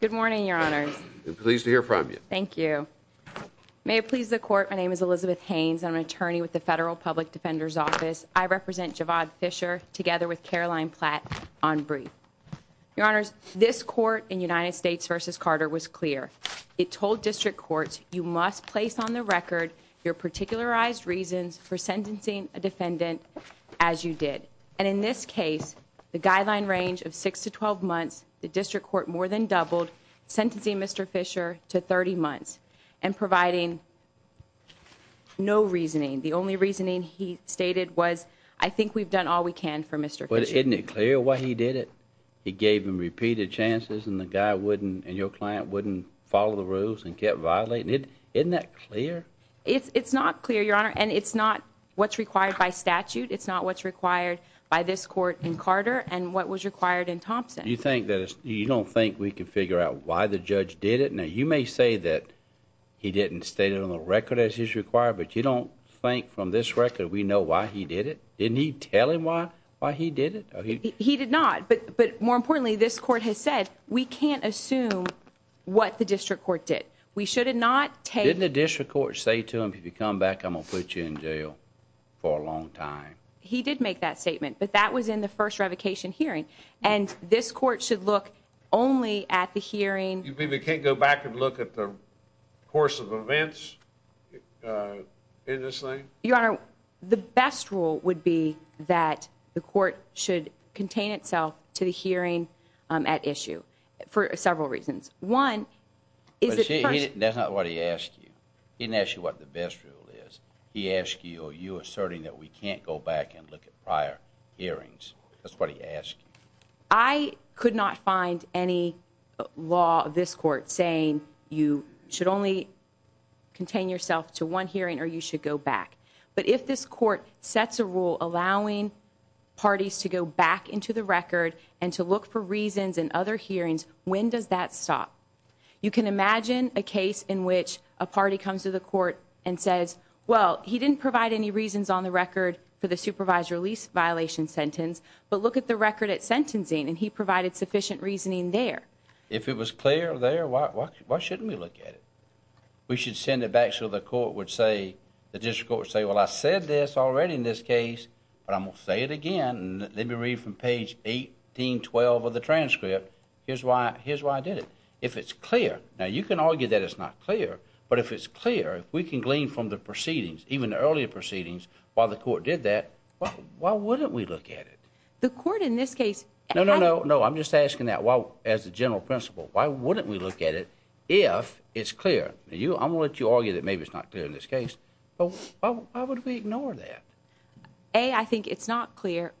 Good morning, Your Honors. Pleased to hear from you. Thank you. May it please the Court, my name is Elizabeth Haynes. I'm an attorney with the Federal Public Defender's Office. I represent Javaad Fisher together with Caroline Platt on brief. Your Honors, this court in United States v. Carter was clear. It told district courts, you must place on the record your particularized reasons for sentencing a defendant as you did. And in this case, the guideline range of six to 12 months, the district court more than doubled sentencing Mr. Fisher to 30 months and providing no reasoning. The only reasoning he stated was, I think we've done all we can for Mr. Fisher. Isn't it clear why he did it? He gave him repeated chances and the guy wouldn't and your client wouldn't follow the rules and kept violating it. Isn't that clear? It's not clear, Your Honor, and it's not what's required by statute. It's not what's required by this court in Carter and what was required in Thompson. You think that you don't think we could figure out why the judge did it? Now, you may say that he didn't state it on the record as he's required, but you don't think from this record we know why he did it. Didn't he tell him why? Why he did it? He did not. But But more importantly, this court has said we can't assume what the district court did. We should have not taken the district court. Say to him, if you come back, I'm gonna put you in jail for a long time. He did make that statement, but that was in the first revocation hearing, and this court should look only at the hearing. You can't go back and look at the course of events. Uh, in this thing, Your Honor, the best rule would be that the court should contain itself to the hearing at issue for several reasons. One is that that's not what he asked you. He didn't ask you what the best rule is. He asked you. Are you asserting that we can't go back and look at prior hearings? That's what he asked. I could not find any law this court saying you should only contain yourself to one hearing or you should go back. But if this court sets a rule allowing parties to go back into the record and to look for reasons and other hearings, when does that stop? You can imagine a case in which a party comes to the court and says, Well, he didn't provide any reasons on the record for the supervisor lease violation sentence. But look at the record at sentencing, and he provided sufficient reasoning there. If it was clear there, why shouldn't we look at it? We should send it back. So the court would say the discourse say, Well, I said this already in this case, but I'm gonna say it again. Let me read from page 18 12 of the transcript. Here's why. Here's why I did it. If it's clear now, you can argue that it's not clear. But if it's clear, we can glean from the proceedings, even earlier proceedings. While the court did that, why wouldn't we look at it? The court in this case? No, no, no, no. I'm just asking that. Well, as a general principle, why wouldn't we look at it? If it's clear you, I'm gonna let you argue that maybe it's not clear in this case. Why would we ignore that? A I think it's not clear.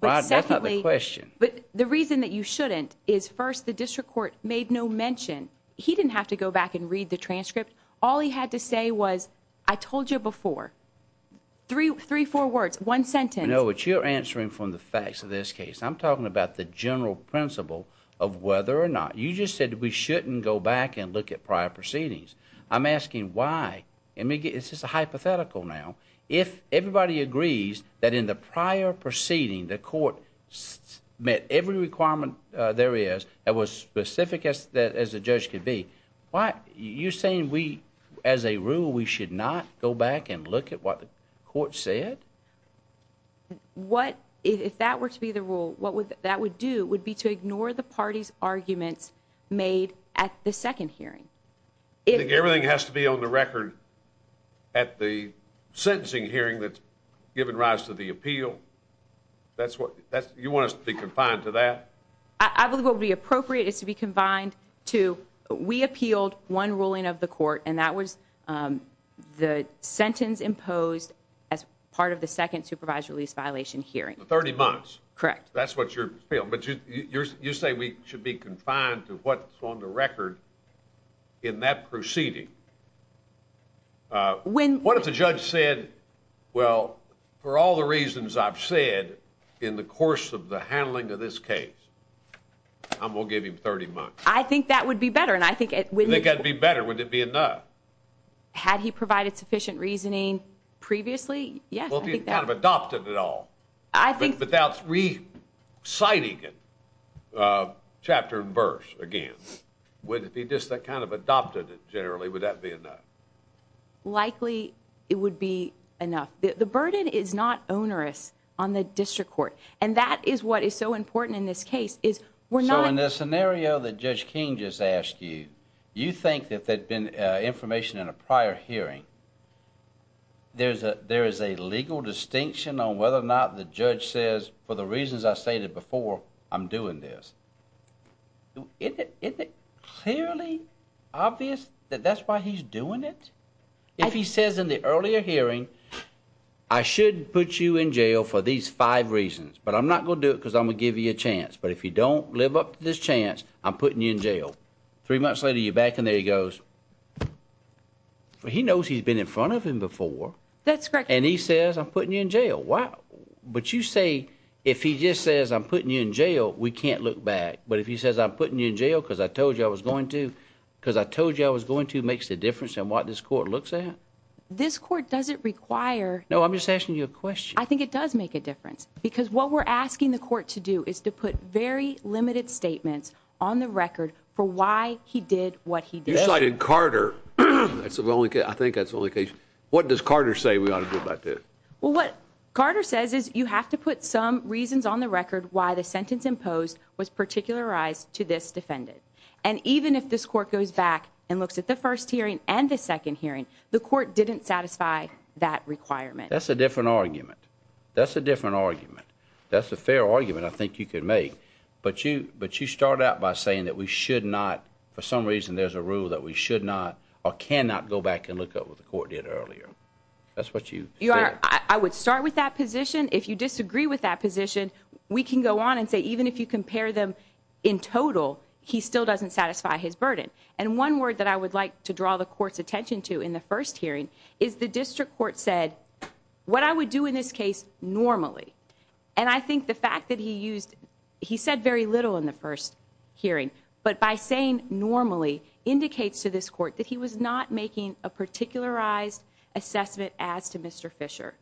But secondly, question. But the reason that you shouldn't is first, the district court made no mention. He didn't have to go back and read the transcript. All he had to say was, I told you before 334 words, one sentence. You know what you're answering from the facts of this case? I'm talking about the general principle of whether or not you just said we shouldn't go back and look at prior proceedings. I'm asking why it may get. It's just a hypothetical. Now, if everybody agrees that in the prior proceeding, the court met every requirement there is that was specific as as a judge could be. Why? You're saying we as a rule, we should not go back and look at what the court said. What if that were to be the rule? What would that would do would be to ignore the party's arguments made at the second hearing. Everything has to be on the record at the sentencing hearing that given rise to the appeal. That's what you want us to be confined to that. I believe will be appropriate. It's to be confined to. We appealed one ruling of the court, and that was, um, the sentence imposed as part of the second supervised release violation hearing 30 months. Correct. That's what you feel. But you say we should be confined to what's on the record in that proceeding. When what if the judge said, Well, for all the reasons I've said in the course of the handling of this case, I'm gonna give him 30 months. I think that would be better. And I think it would be better. Would it be enough? Had he provided sufficient reasoning previously? Yeah, adopted at all. I think without re citing it, uh, chapter and verse again, would it be just that kind of adopted generally? Would that be enough? Likely it would be enough. The is what is so important in this case is we're not in this scenario that Judge King just asked you. You think that they've been information in a prior hearing? There's a There is a legal distinction on whether or not the judge says, For the reasons I stated before, I'm doing this. It clearly obvious that that's why he's doing it. If he says in the earlier hearing, I should put you in jail for these five reasons, but I'm not gonna do it because I'm gonna give you a chance. But if you don't live up to this chance, I'm putting you in jail. Three months later, you're back in there. He goes, he knows he's been in front of him before. That's correct. And he says I'm putting you in jail. Wow. But you say if he just says I'm putting you in jail, we can't look back. But if he says I'm putting you in jail because I told you I was going to because I told you I was going to makes the difference in what this court looks at. This court doesn't require. No, I'm just asking you a question. I think it does make a difference because what we're asking the court to do is to put very limited statements on the record for why he did what he decided Carter. That's the only I think that's only case. What does Carter say? We ought to do about this? Well, what Carter says is you have to put some reasons on the record why the sentence imposed was particularized to this defendant. And even if this court goes back and looks at the first hearing and the second hearing, the court didn't satisfy that requirement. That's a different argument. That's a different argument. That's a fair argument I think you could make. But you but you start out by saying that we should not for some reason there's a rule that we should not or cannot go back and look up with the court did earlier. That's what you are. I would start with that position. If you disagree with that position, we can go on and say even if you compare them in total, he still doesn't satisfy his and one word that I would like to draw the court's attention to in the first hearing is the district court said what I would do in this case normally. And I think the fact that he used, he said very little in the first hearing, but by saying normally indicates to this court that he was not making a particularized assessment as to Mr Fisher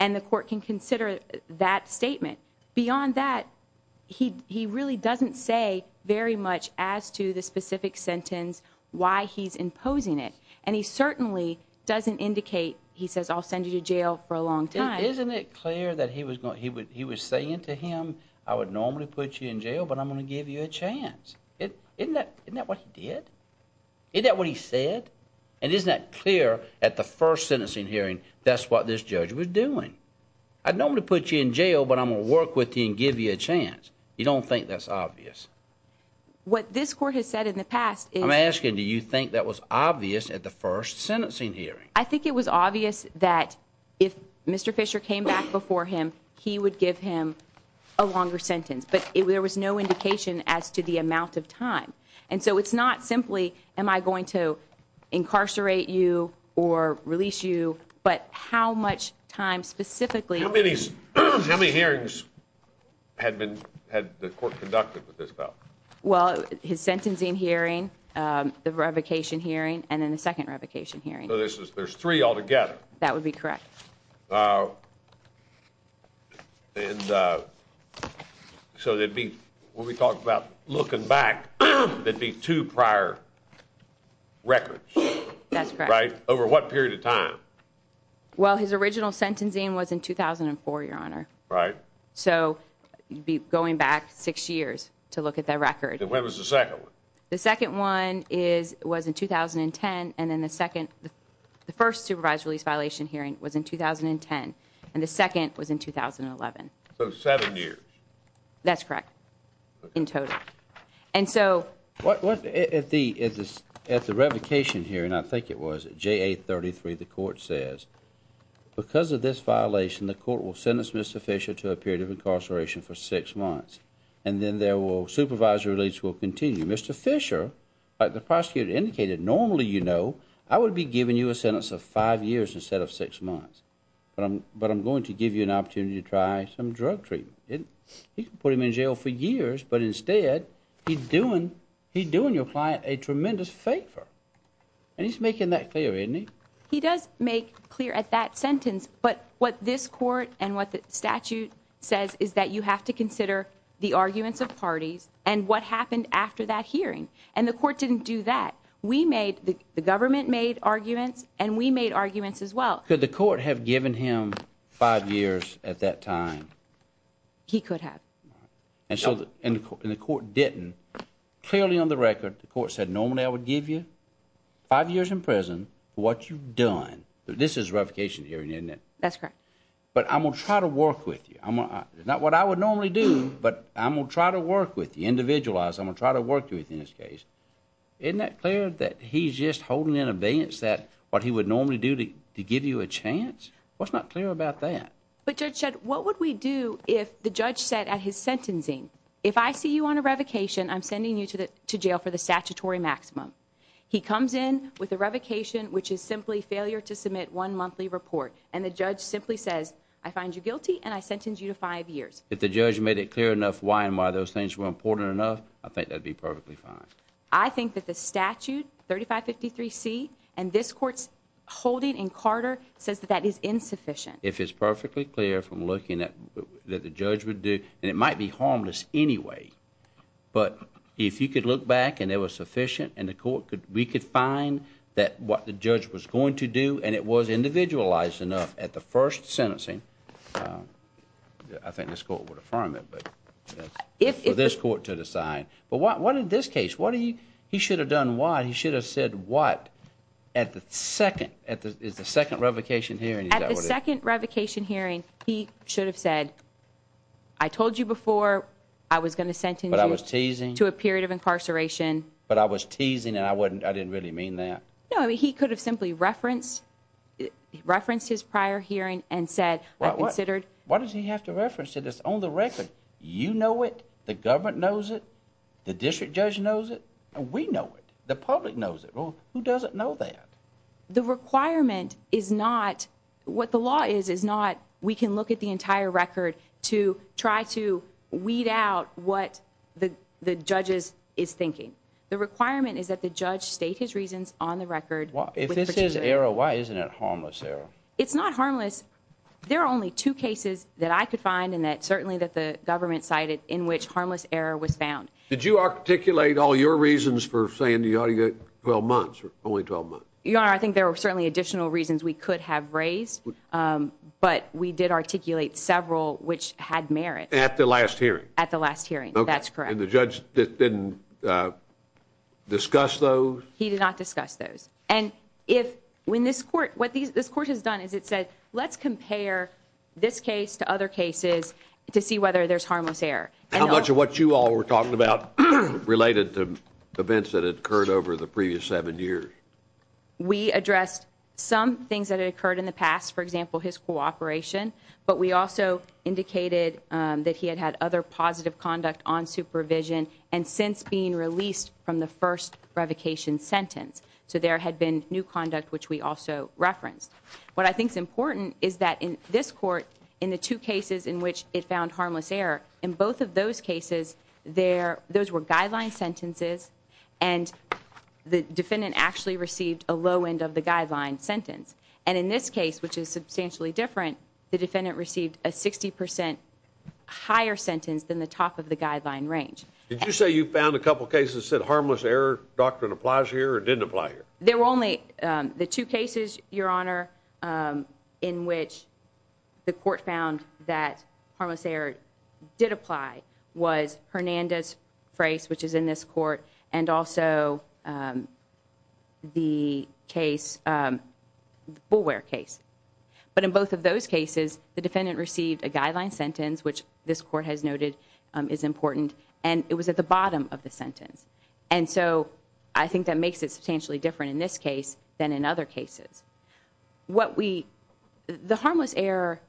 and the court can consider that statement. Beyond that, he really doesn't say very much as to the specific sentence, why he's imposing it. And he certainly doesn't indicate, he says, I'll send you to jail for a long time. Isn't it clear that he was going, he would, he was saying to him, I would normally put you in jail, but I'm gonna give you a chance. Isn't that what he did? Is that what he said? And isn't that clear at the first sentencing hearing? That's what this judge was doing. I'd normally put you in jail, but I'm gonna work with you and give you a chance. You don't think that's obvious. What this court has said in the past, I'm asking, do you think that was obvious at the first sentencing hearing? I think it was obvious that if Mr Fisher came back before him, he would give him a longer sentence. But there was no indication as to the amount of time. And so it's not simply, am I going to incarcerate you or release you? But how much time specifically how many hearings had been had the court conducted with this? Well, his sentencing hearing, um, the revocation hearing and then the second revocation hearing. So this is, there's three altogether. That would be correct. Uh, and uh, so they'd be when we talked about looking back, there'd be two prior records, right? Over what period of time? Well, his original sentencing was in 2004, your honor, right? So you'd be going back six years to look at that record. When was the second one? The second one is was in 2010. And then the second, the first supervised release violation hearing was in 2010. And the second was in 2011. So seven years. That's correct. In total. And so what was at the at the at the revocation here? And I think it was J. A. 33. The because of this violation, the court will sentence Mr Fisher to a period of incarceration for six months and then there will supervisor release will continue. Mr Fisher, like the prosecutor indicated, normally, you know, I would be giving you a sentence of five years instead of six months. But I'm, but I'm going to give you an opportunity to try some drug treatment. You can put him in jail for years, but instead he's doing, he's doing your client a tremendous favor and he's making that clear, isn't he? He does make clear at that sentence. But what this court and what the statute says is that you have to consider the arguments of parties and what happened after that hearing. And the court didn't do that. We made the government made arguments and we made arguments as well. Could the court have given him five years at that time? He could have. And so in the court didn't clearly on the record, the court said normally I would give you five years in prison for what you've done. This is revocation hearing, isn't it? That's correct. But I'm gonna try to work with you. I'm not what I would normally do, but I'm gonna try to work with you individualized. I'm gonna try to work with you in this case. Isn't that clear that he's just holding an abeyance that what he would normally do to give you a chance? What's not clear about that? But Judge said, what would we do if the judge said at his sentencing, if I see you on a revocation, I'm sending you to jail for the statutory maximum. He comes in with a revocation, which is simply failure to submit one monthly report. And the judge simply says, I find you guilty and I sentenced you to five years. If the judge made it clear enough why and why those things were important enough, I think that'd be perfectly fine. I think that the statute 35 53 C and this court's holding in Carter says that that is insufficient. If it's perfectly clear from looking at that the judge would do and it might be harmless anyway. But if you could look back and it was sufficient and the court could, we could find that what the judge was going to do and it was individualized enough at the first sentencing. Um, I think this court would affirm it, but if this court to decide, but what in this case, what do you he should have done? Why he should have said what at the second at the second revocation hearing at the second revocation hearing, he should have said, I told you before I was going to but I was teasing and I wasn't, I didn't really mean that. No, he could have simply referenced, referenced his prior hearing and said, I considered why does he have to reference to this on the record? You know what the government knows it. The district judge knows it and we know it. The public knows it. Who doesn't know that the requirement is not what the law is, is not. We can look at the entire record to try to weed out what the judges is thinking. The requirement is that the judge state his reasons on the record. If this is error, why isn't it harmless error? It's not harmless. There are only two cases that I could find and that certainly that the government cited in which harmless error was found. Did you articulate all your reasons for saying you ought to get 12 months or only 12 months? You are. I think there were certainly additional reasons we could have raised. Um, but we did articulate several which had merit at the last hearing at the last hearing. That's correct. And the judge didn't, uh, discuss those. He did not discuss those. And if when this court, what this court has done is it said, let's compare this case to other cases to see whether there's harmless air. How much of what you all were talking about related to events that occurred over the previous seven years. We addressed some things that occurred in the past, for example, his cooperation. But we also indicated that he had had other positive conduct on supervision and since being released from the first revocation sentence. So there had been new conduct, which we also referenced. What I think is important is that in this court in the two cases in which it found harmless air in both of those cases there, those were guideline sentences and the defendant actually received a low end of the guideline sentence. And in this case, which is substantially different, the defendant received a 60% higher sentence than the top of the guideline range. Did you say you found a couple cases that harmless air doctrine applies here or didn't apply here? There were only the two cases, Your Honor. Um, in which the court found that harmless air did apply was Hernandez phrase, which is in this court and also, um, the case, um, we'll wear case. But in both of those cases, the defendant received a guideline sentence, which this court has noted is important, and it was at the bottom of the sentence. And so I think that makes it substantially different in this case than in other cases. What we the harmless air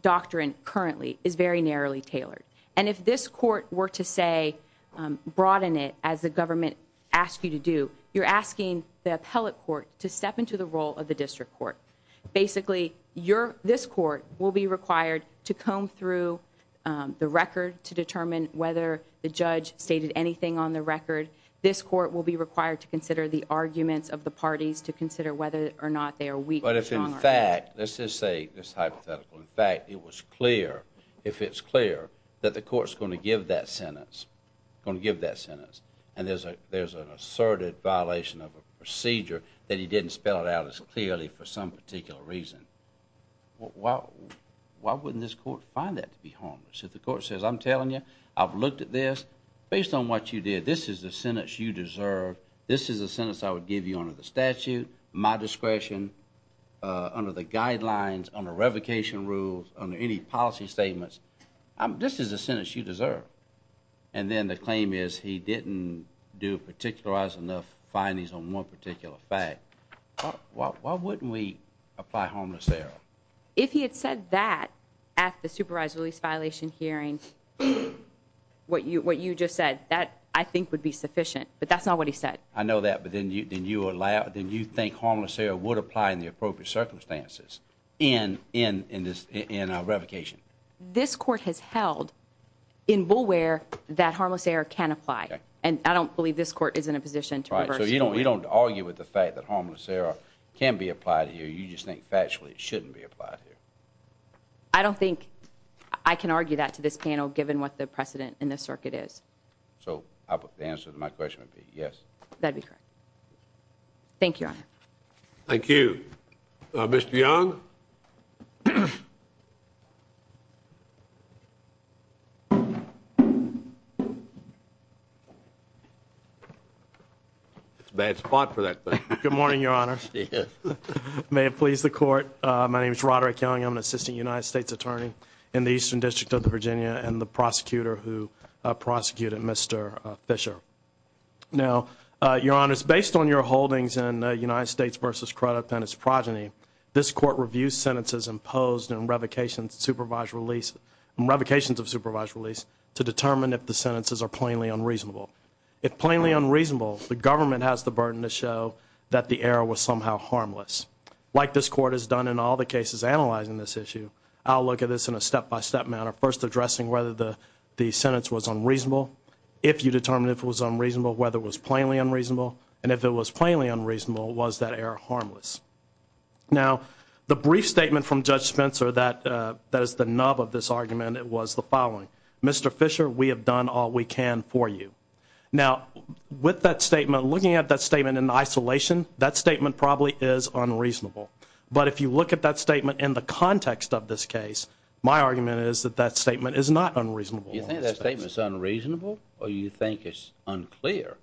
doctrine currently is very narrowly tailored. And if this court were to say, um, broaden it as the government asked you to do, you're asking the appellate court to step into the role of the district court. Basically, your this court will be required to comb through the record to determine whether the judge stated anything on the record. This court will be required to consider the arguments of the parties to consider whether or not they are weak. But if, in fact, let's just say this hypothetical. In fact, it was clear if it's clear that the court is going to give that sentence, going to give that sentence. And there's a there's an asserted violation of a particular reason. Why? Why wouldn't this court find that to be harmless? If the court says, I'm telling you, I've looked at this based on what you did. This is the sentence you deserve. This is a sentence I would give you under the statute, my discretion, uh, under the guidelines on a revocation rules under any policy statements. Um, this is a sentence you deserve. And then the claim is he didn't do particularize enough findings on one particular fact. Why? Why wouldn't we apply harmless there? If he had said that at the supervised release violation hearings, what you what you just said that I think would be sufficient. But that's not what he said. I know that. But then you then you allow, then you think harmless air would apply in the appropriate circumstances in in in this in a revocation this court has held in bulware that harmless air can apply. And I don't believe this court is in a right. So you don't, you don't argue with the fact that harmless air can be applied here. You just think factually it shouldn't be applied here. I don't think I can argue that to this panel, given what the precedent in this circuit is. So I put the answer to my question would be yes, that'd be correct. Thank you. Thank you, Mr Young. Mhm. Mhm. Bad spot for that. Good morning, Your Honor. May it please the court. My name is Roderick Young. I'm an assistant United States attorney in the Eastern District of Virginia and the prosecutor who prosecuted Mr Fisher. Now, Your Honor is based on your holdings in United States versus credit and its progeny. This court review sentences imposed and revocations, supervised release and revocations of supervised release to determine if the sentences are plainly unreasonable. It plainly unreasonable the government has the burden to show that the air was somehow harmless. Like this court has done in all the cases analyzing this issue. I'll look at this in a step by step manner. First addressing whether the sentence was unreasonable. If you determine if it was unreasonable, whether it was plainly unreasonable and if it was plainly unreasonable, was that air harmless. Now the brief statement from Judge Spencer that that is the nub of this argument, it was the following Mr Fisher, we have done all we can for you now with that statement. Looking at that statement in isolation, that statement probably is unreasonable. But if you look at that statement in the context of this case, my argument is that that statement is not unreasonable. You think that statement is unreasonable or you think it's unclear?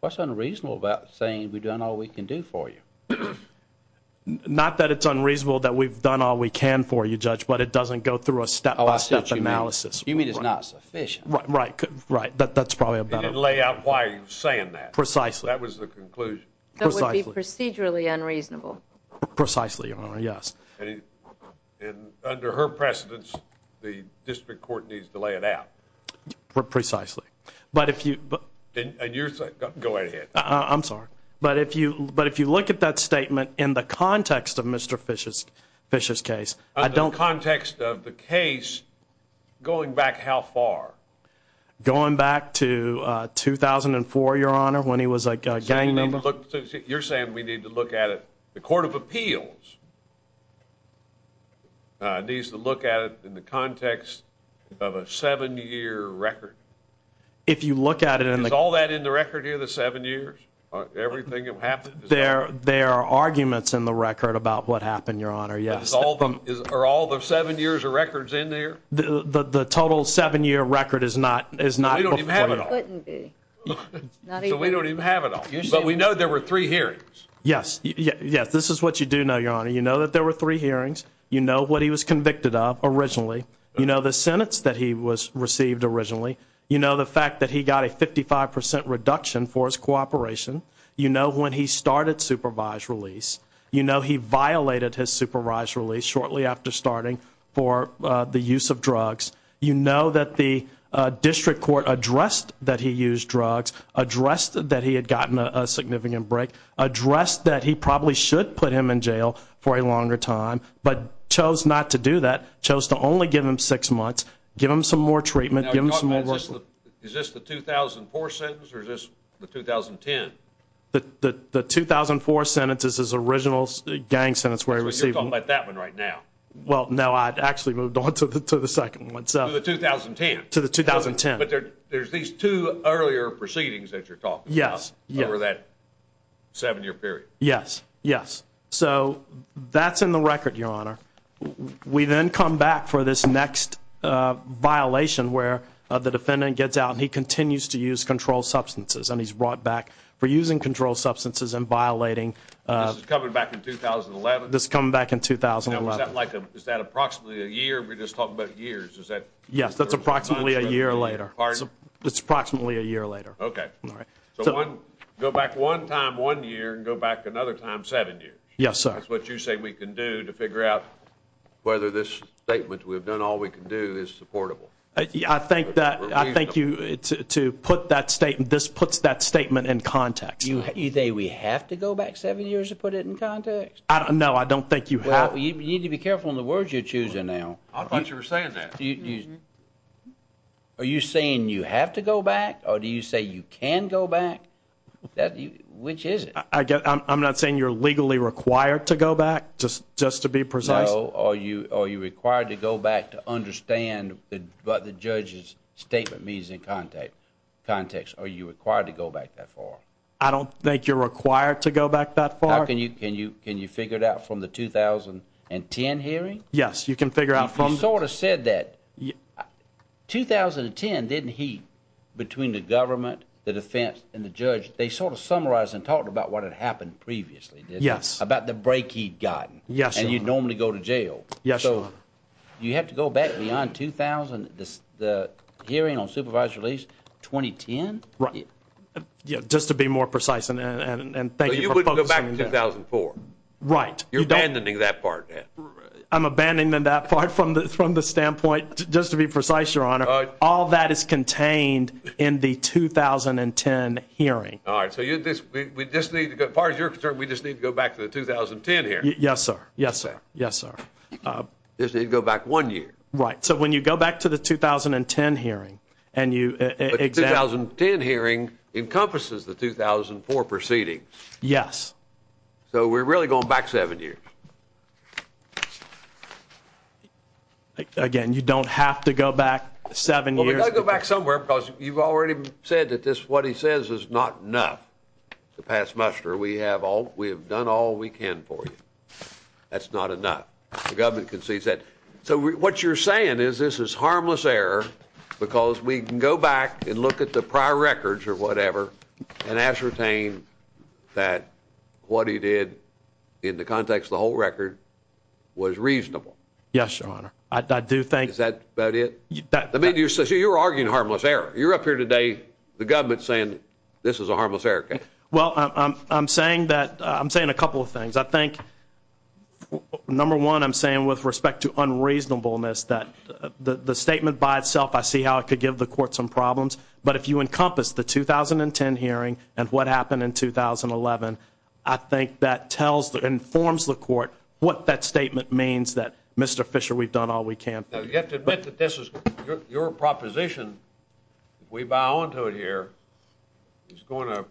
What's unreasonable about saying we've done all we can do for you? Not that it's unreasonable that we've done all we can for you judge, but it doesn't go through a step by step analysis. You mean it's not sufficient, right? Right. Right. That's probably a better lay out. Why are you saying that precisely? That was the conclusion. That would be procedurally unreasonable. Precisely. Your Honor. Yes. And under her precedence, the district court needs to lay it out precisely. But if you and you're going ahead, I'm sorry. But if you but if you look at that statement in the context of Mr Fish's Fish's case, I don't context of the case going back how far going back to 2004, Your Honor, when he was like a gang member, you're saying we need to look at it. The Court of Appeals needs to look at it in the context of a seven year record. If you look at it and all that in the record here, the seven years, everything that happened there, there are arguments in the record about what happened, Your Honor. Yes. All of them are all the seven years of records in there. The total seven year record is not is not even have it all. But we know there were three hearings. Yes. Yes. This is what you do know, Your Honor. You know that there were three hearings. You know what he was convicted of originally. You know the sentence that he was received originally. You know the fact that he got a 55% reduction for his cooperation. You know, when he started supervised release, you know, he violated his supervised release shortly after starting for the use of drugs. You know that the district court addressed that he used drugs addressed that he had gotten a significant break addressed that he probably should put him in jail for a longer time, but chose not to do that. Chose to only give him six months. Give him some more treatment. Give him some more. Is this the 2004 sentence? Or is this the 10? The 2004 sentence is his original gang sentence where he received about that one right now. Well, no, I'd actually moved on to the to the second one. So the 2010 to the 2010. But there's these two earlier proceedings that you're talking. Yes. Yeah. That seven year period. Yes. Yes. So that's in the record, Your Honor. We then come back for this next violation where the defendant gets out and he continues to use control substances and he's brought back for using control substances and violating coming back in 2011. This coming back in 2000 like is that approximately a year? We're just talking about years. Is that? Yes, that's approximately a year later. It's approximately a year later. Okay. All right. So go back one time one year and go back another time. Seven years. Yes, sir. What you say we can do to figure out whether this statement we have done all we can do is supportable. I think that I think you to put that statement. This puts that statement in context. You say we have to go back seven years to put it in context. I don't know. I don't think you have. You need to be careful in the words you're choosing now. I thought you were saying that you are you saying you have to go back? Or do you say you can go back? That which is it? I guess I'm not saying you're legally required to go back just just to be precise. Are you? Are you required to go back to understand? But the judge's statement means in contact context. Are you required to go back that far? I don't think you're required to go back that far. Can you? Can you? Can you figure it out from the 2000 and 10 hearing? Yes, you can figure out from sort of said that 2000 and 10 didn't heat between the government, the defense and the judge. They sort of summarized and talked about what had happened previously. Yes. About the break he'd gotten. Yes. And you normally go to jail. Yes. So you have to go back beyond 2000. The hearing on supervised release 2010. Right. Yeah. Just to be more precise. And and and thank you. Go back to 2004. Right. You're abandoning that part. I'm abandoning that part from the from the standpoint. Just to be precise, your honor. All that is contained in the 2000 and 10 hearing. All right. So you just we just need to go. Part of your concern. We just need to go back to the 2000 and 10 here. Yes, sir. Yes, sir. Yes, sir. Uh, this didn't go back one year. Right. So when you go back to the 2000 and 10 hearing and you 2000 and 10 hearing encompasses the 2000 for proceeding. Yes. So we're really going back seven years again. You don't have to go back seven years. Go back somewhere because you've already said that this what he says is not enough to pass muster. We have all we have done all weekend for you. That's not enough. The government concedes that. So what you're saying is this is harmless error because we can go back and look at the prior records or whatever and ascertain that what he did in the context of the whole record was reasonable. Yes, your honor. I do think that is that the media says you're arguing harmless error. You're up here today. The government saying this is a harmless Erica. Well, I'm saying that I'm saying a couple of things. I think number one, I'm saying with respect to unreasonableness that the statement by itself, I see how it could give the court some problems. But if you encompass the 2000 and 10 hearing and what happened in 2000 and 11, I think that tells the informs the court what that statement means that Mr Fisher, we've done all we can. You have to admit that this is your proposition. We bow onto it here. It's going to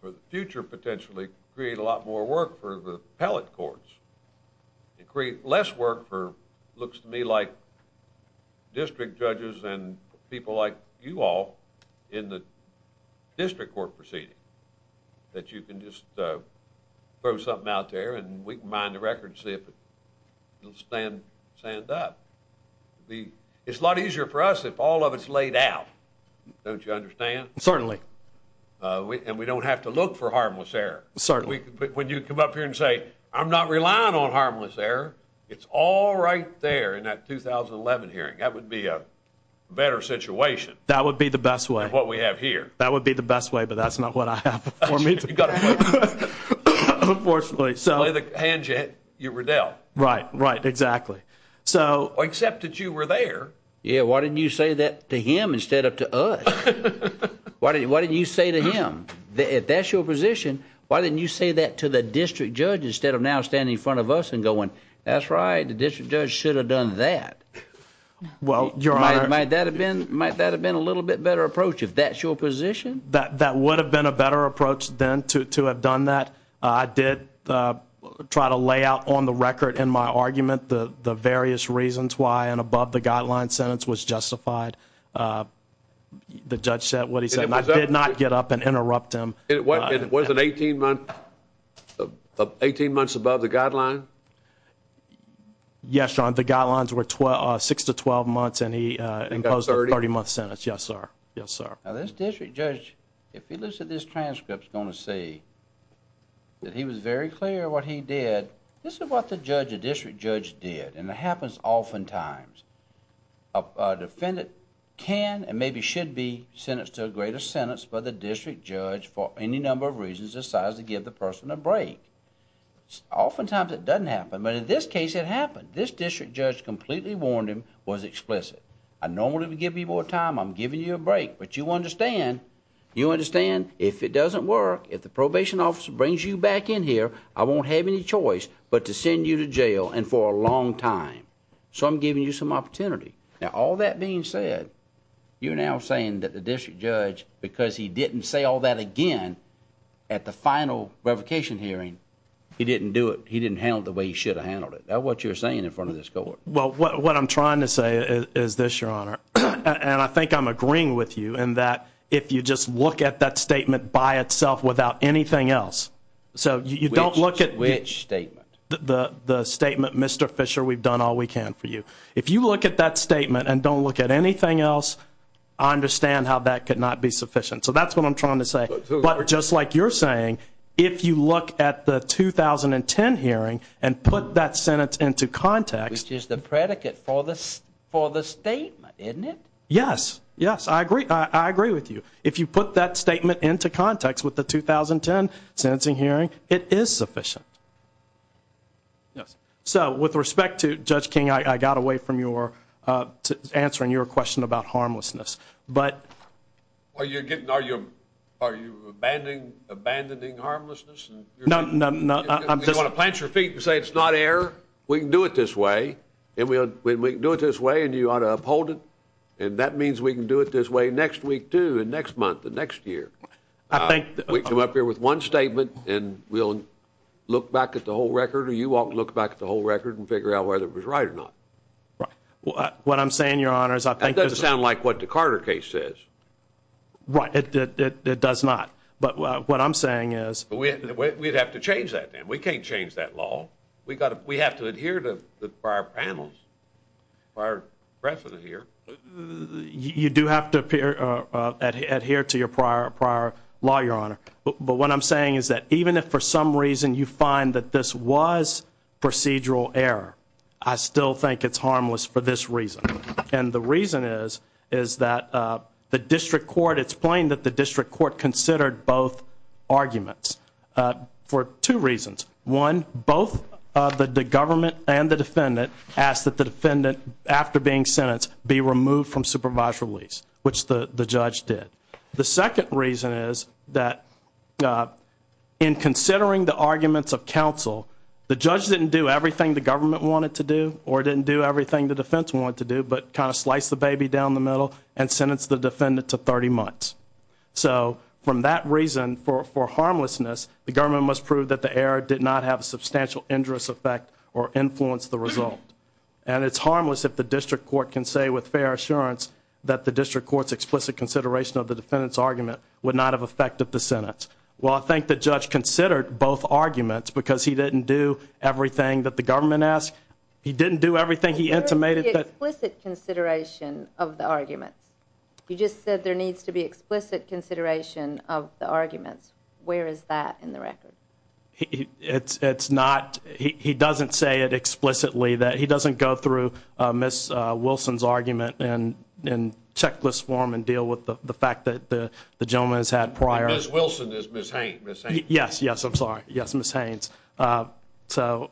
for potentially create a lot more work for the pellet courts. It create less work for looks to me like district judges and people like you all in the district court proceeding that you can just uh throw something out there and we can mind the record. See if you'll stand stand up. The it's a lot easier for us if all of its laid out. Don't you understand? Certainly. Uh and we don't have to look for harmless error when you come up here and say I'm not relying on harmless error. It's all right there in that 2000 and 11 hearing. That would be a better situation. That would be the best way of what we have here. That would be the best way. But that's not what I have for me. You've got to unfortunately so the hands you were dealt. Right, right. Exactly. So except that you were there. Yeah. Why didn't you say that to him instead of to us? Why didn't why didn't you say to him that if that's your position, why didn't you say that to the district judge instead of now standing in front of us and going, that's right. The district judge should have done that. Well, you're right. Might that have been might that have been a little bit better approach. If that's your position that that would have been a better approach than to to have done that. I did uh try to lay out on the record in my argument the various reasons why and above the the judge said what he said. I did not get up and interrupt him. It wasn't 18 months, 18 months above the guideline. Yes, John. The guidelines were 12 6 to 12 months and he imposed 30 month sentence. Yes, sir. Yes, sir. Now, this district judge, if he looks at this transcripts going to say that he was very clear what he did. This is what the judge, the district judge did. And it happens oftentimes a defendant can and maybe should be sentenced to a greater sentence. But the district judge, for any number of reasons, decides to give the person a break. Oftentimes it doesn't happen. But in this case, it happened. This district judge completely warned him was explicit. I normally give people time. I'm giving you a break. But you understand, you understand if it doesn't work. If the probation officer brings you back in here, I won't have any choice but to send you to jail and for a long time. So I'm giving you some opportunity. Now, all that being said, you're now saying that the district judge, because he didn't say all that again at the final revocation hearing, he didn't do it. He didn't handle the way he should have handled it. That's what you're saying in front of this court. Well, what I'm trying to say is this, Your Honor, and I think I'm agreeing with you and that if you just look at that statement by itself without anything else, so you don't look at which statement the statement Mr. Fisher, we've done all we can for you. If you look at that statement and don't look at anything else, I understand how that could not be sufficient. So that's what I'm trying to say. But just like you're saying, if you look at the 2010 hearing and put that sentence into context, which is the predicate for this for the state, isn't it? Yes, yes, I agree. I agree with you. If you put that statement into context with the 2010 sentencing hearing, it is sufficient. Yes. So with respect to Judge King, I got away from your answering your question about harmlessness, but... Are you abandoning harmlessness? No, no, no. You want to plant your feet and say it's not error? We can do it this way, and we can do it this way, and you ought to uphold it, and that means we can do it this way next week, too, and next month, the next year. I think... We come up here with one statement, and we'll look back at the whole record, or you ought to look back at the whole record and figure out whether it was right or not. What I'm saying, Your Honors, I think... That doesn't sound like what the Carter case says. Right, it does not. But what I'm saying is... We'd have to change that, Dan. We can't change that law. We have to adhere to the prior panels, prior precedent here. You do have to adhere to your prior law, Your Honor. But what I'm saying is that even if for some reason you find that this was procedural error, I still think it's harmless for this reason. And the reason is that the district court... It's plain that the district court considered both arguments for two reasons. One, both the government and the defendant asked that the defendant, after being released, which the judge did. The second reason is that in considering the arguments of counsel, the judge didn't do everything the government wanted to do, or didn't do everything the defense wanted to do, but kind of sliced the baby down the middle and sentenced the defendant to 30 months. So from that reason, for harmlessness, the government must prove that the error did not have a substantial injurious effect or influence the result. And it's harmless if the district court can say with fair assurance that the district court's explicit consideration of the defendant's argument would not have affected the sentence. Well, I think the judge considered both arguments because he didn't do everything that the government asked. He didn't do everything he intimated that... Where is the explicit consideration of the arguments? You just said there needs to be explicit consideration of the arguments. Where is that in the record? It's not... He doesn't say it explicitly, that he doesn't go through Ms. Wilson's argument in checklist form and deal with the fact that the gentleman has had prior... Ms. Wilson is Ms. Haynes. Yes, yes, I'm sorry. Yes, Ms. Haynes. So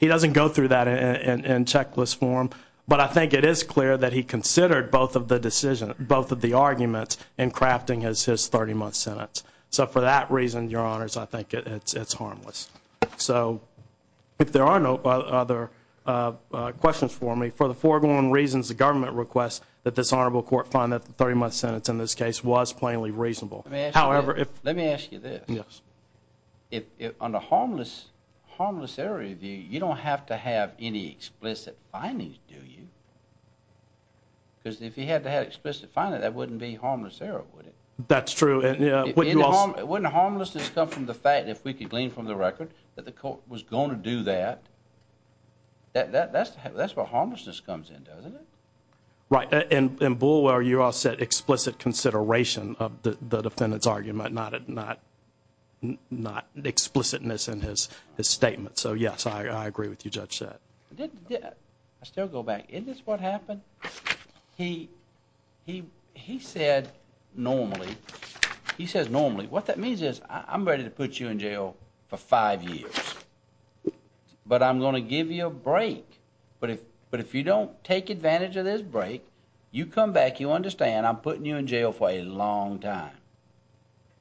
he doesn't go through that in checklist form, but I think it is clear that he considered both of the decisions, both of the arguments, in crafting his 30-month sentence. So for that reason, Your Honors, I think it's harmless. So if there are no other questions for me, for the foregone reasons the government requests that this Honorable Court find that the 30-month sentence in this case was plainly reasonable. However, if... Let me ask you this. Yes. If on the harmless, harmless error review, you don't have to have any explicit findings, do you? Because if you had to have explicit findings, that wouldn't be harmless error, would it? That's true. Wouldn't harmlessness come from the fact, if we could glean from the record, that the court was going to do that? That's where harmlessness comes in, doesn't it? Right. And in Boulware, you all said explicit consideration of the defendant's argument, not explicitness in his statement. So yes, I agree with you, Judge Sett. I still go He says normally. What that means is, I'm ready to put you in jail for five years. But I'm going to give you a break. But if you don't take advantage of this break, you come back, you understand I'm putting you in jail for a long time.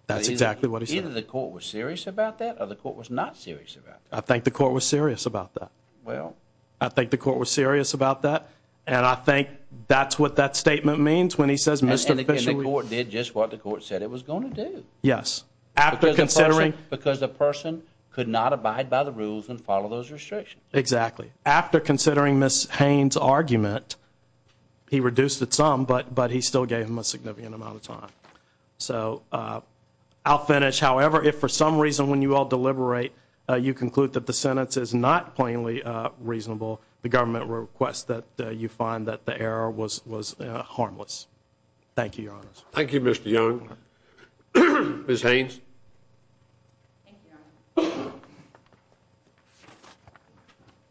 That's exactly what he said. Either the court was serious about that, or the court was not serious about that. I think the court was serious about that. Well... I think the court was serious about that, and I think that's what that statement means when he says Mr. Fisher... And the court did just what the court said it was going to do. Yes. After considering... Because the person could not abide by the rules and follow those restrictions. Exactly. After considering Ms. Haines' argument, he reduced it some, but he still gave him a significant amount of time. So I'll finish. However, if for some reason when you all deliberate, you conclude that the sentence is not plainly reasonable, the government requests that you find that the error was harmless. Thank you, Your Honor. Thank you, Mr. Young. Ms. Haines.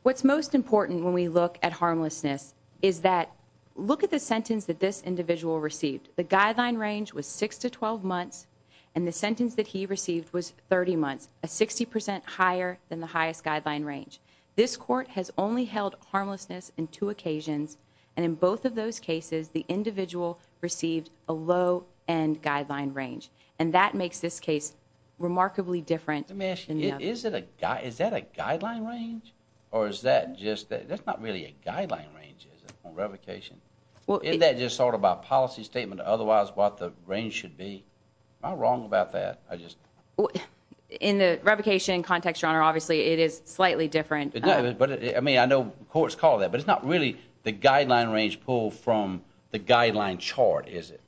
What's most important when we look at harmlessness is that... Look at the sentence that this individual received. The guideline range was six to twelve months, and the sentence that he received was 30 months, a 60% higher than the highest guideline range. This court has only held harmlessness in two occasions and in both of those cases, the individual received a low-end guideline range, and that makes this case remarkably different. Let me ask you, is it a... Is that a guideline range, or is that just... That's not really a guideline range, is it, on revocation? Well, isn't that just sort of a policy statement, otherwise what the range should be? Am I wrong about that? I just... In the revocation context, Your Honor, obviously it is slightly different. But I mean, I know courts call that, but it's not really the guideline range pulled from the guideline chart, is it?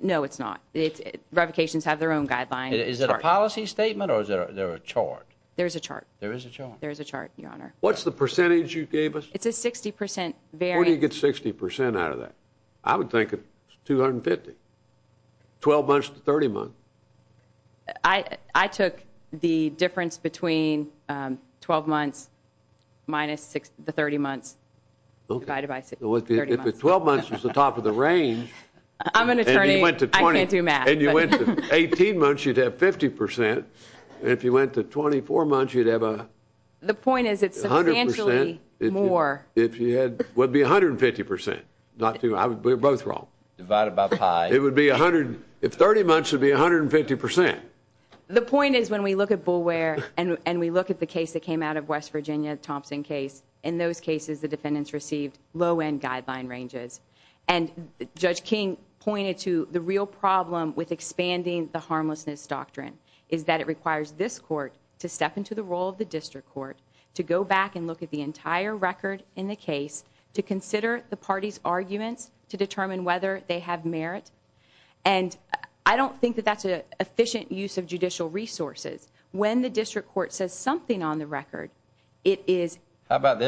No, it's not. It's... Revocations have their own guidelines. Is it a policy statement, or is there a chart? There's a chart. There is a chart. There's a chart, Your Honor. What's the percentage you gave us? It's a 60% variance. Where do you get 60% out of that? I would think it's 250. Twelve months to 30 months. I took the difference between 12 months minus the 30 months. Okay. If the 12 months was the top of the range... I'm an attorney, I can't do math. And you went to 18 months, you'd have 50%. If you went to 24 months, you'd have a... The point is it's substantially more. It would be 150%. Not too... We're both wrong. Divided by pi. It would be a hundred... If 30 months would be 150%. The point is, when we look at Boulware, and we look at the West Virginia Thompson case, in those cases the defendants received low-end guideline ranges. And Judge King pointed to the real problem with expanding the harmlessness doctrine, is that it requires this court to step into the role of the district court, to go back and look at the entire record in the case, to consider the party's arguments, to determine whether they have merit. And I don't think that that's an efficient use of judicial resources. When the it is... How about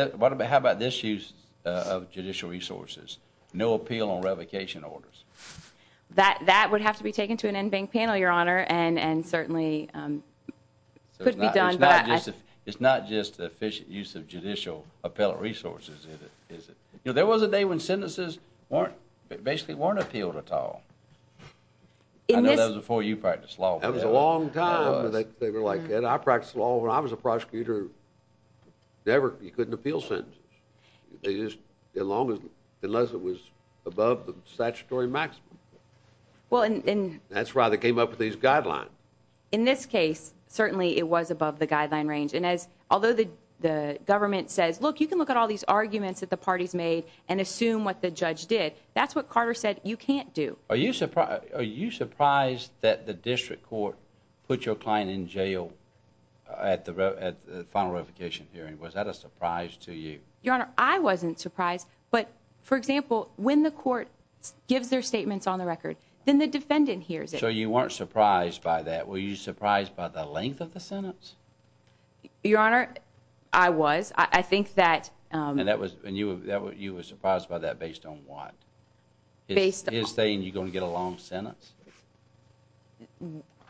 this use of judicial resources? No appeal on revocation orders. That would have to be taken to an in-bank panel, Your Honor, and certainly could be done. It's not just the efficient use of judicial appellate resources, is it? You know, there was a day when sentences basically weren't appealed at all. I know that was before you practiced law. That was a long time. They were like, I practiced law when I was a prosecutor. Never, you couldn't appeal sentences. Unless it was above the statutory maximum. That's why they came up with these guidelines. In this case, certainly it was above the guideline range. And as, although the government says, look, you can look at all these arguments that the parties made and assume what the judge did, that's what Carter said you can't do. Are you surprised that the district court put your client in jail at the final revocation hearing? Was that a surprise to you? Your Honor, I wasn't surprised. But, for example, when the court gives their statements on the record, then the defendant hears it. So you weren't surprised by that? Were you surprised by the length of the sentence? Your Honor, I was. I think that... And that was, and you were surprised by that based on what? Based on... Is saying you're going to get a long sentence?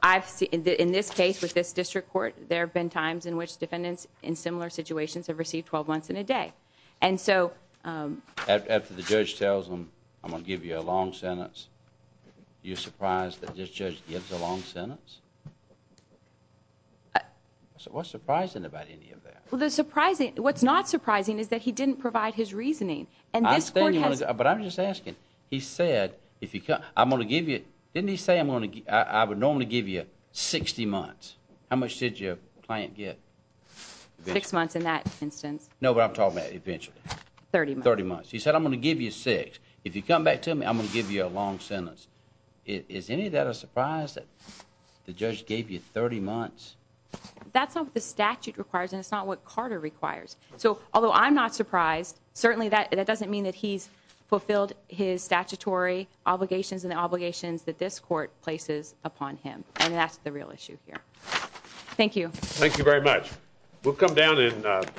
I've seen, in this case, with this district court, there have been times in which defendants in similar situations have received 12 months in a day. And so... After the judge tells them, I'm gonna give you a long sentence, you're surprised that this judge gives a long sentence? What's surprising about any of that? Well, the surprising, what's not surprising is that he didn't provide his Didn't he say, I would normally give you 60 months? How much did your client get? Six months in that instance. No, but I'm talking about eventually. 30 months. 30 months. He said, I'm gonna give you six. If you come back to me, I'm gonna give you a long sentence. Is any of that a surprise that the judge gave you 30 months? That's not what the statute requires and it's not what Carter requires. So, although I'm not surprised, certainly that doesn't mean that he's obligations and the obligations that this court places upon him and that's the real issue here. Thank you. Thank you very much. We'll come down and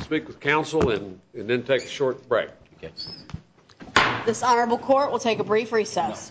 speak with counsel and then take a short break. This honorable court will take a brief recess.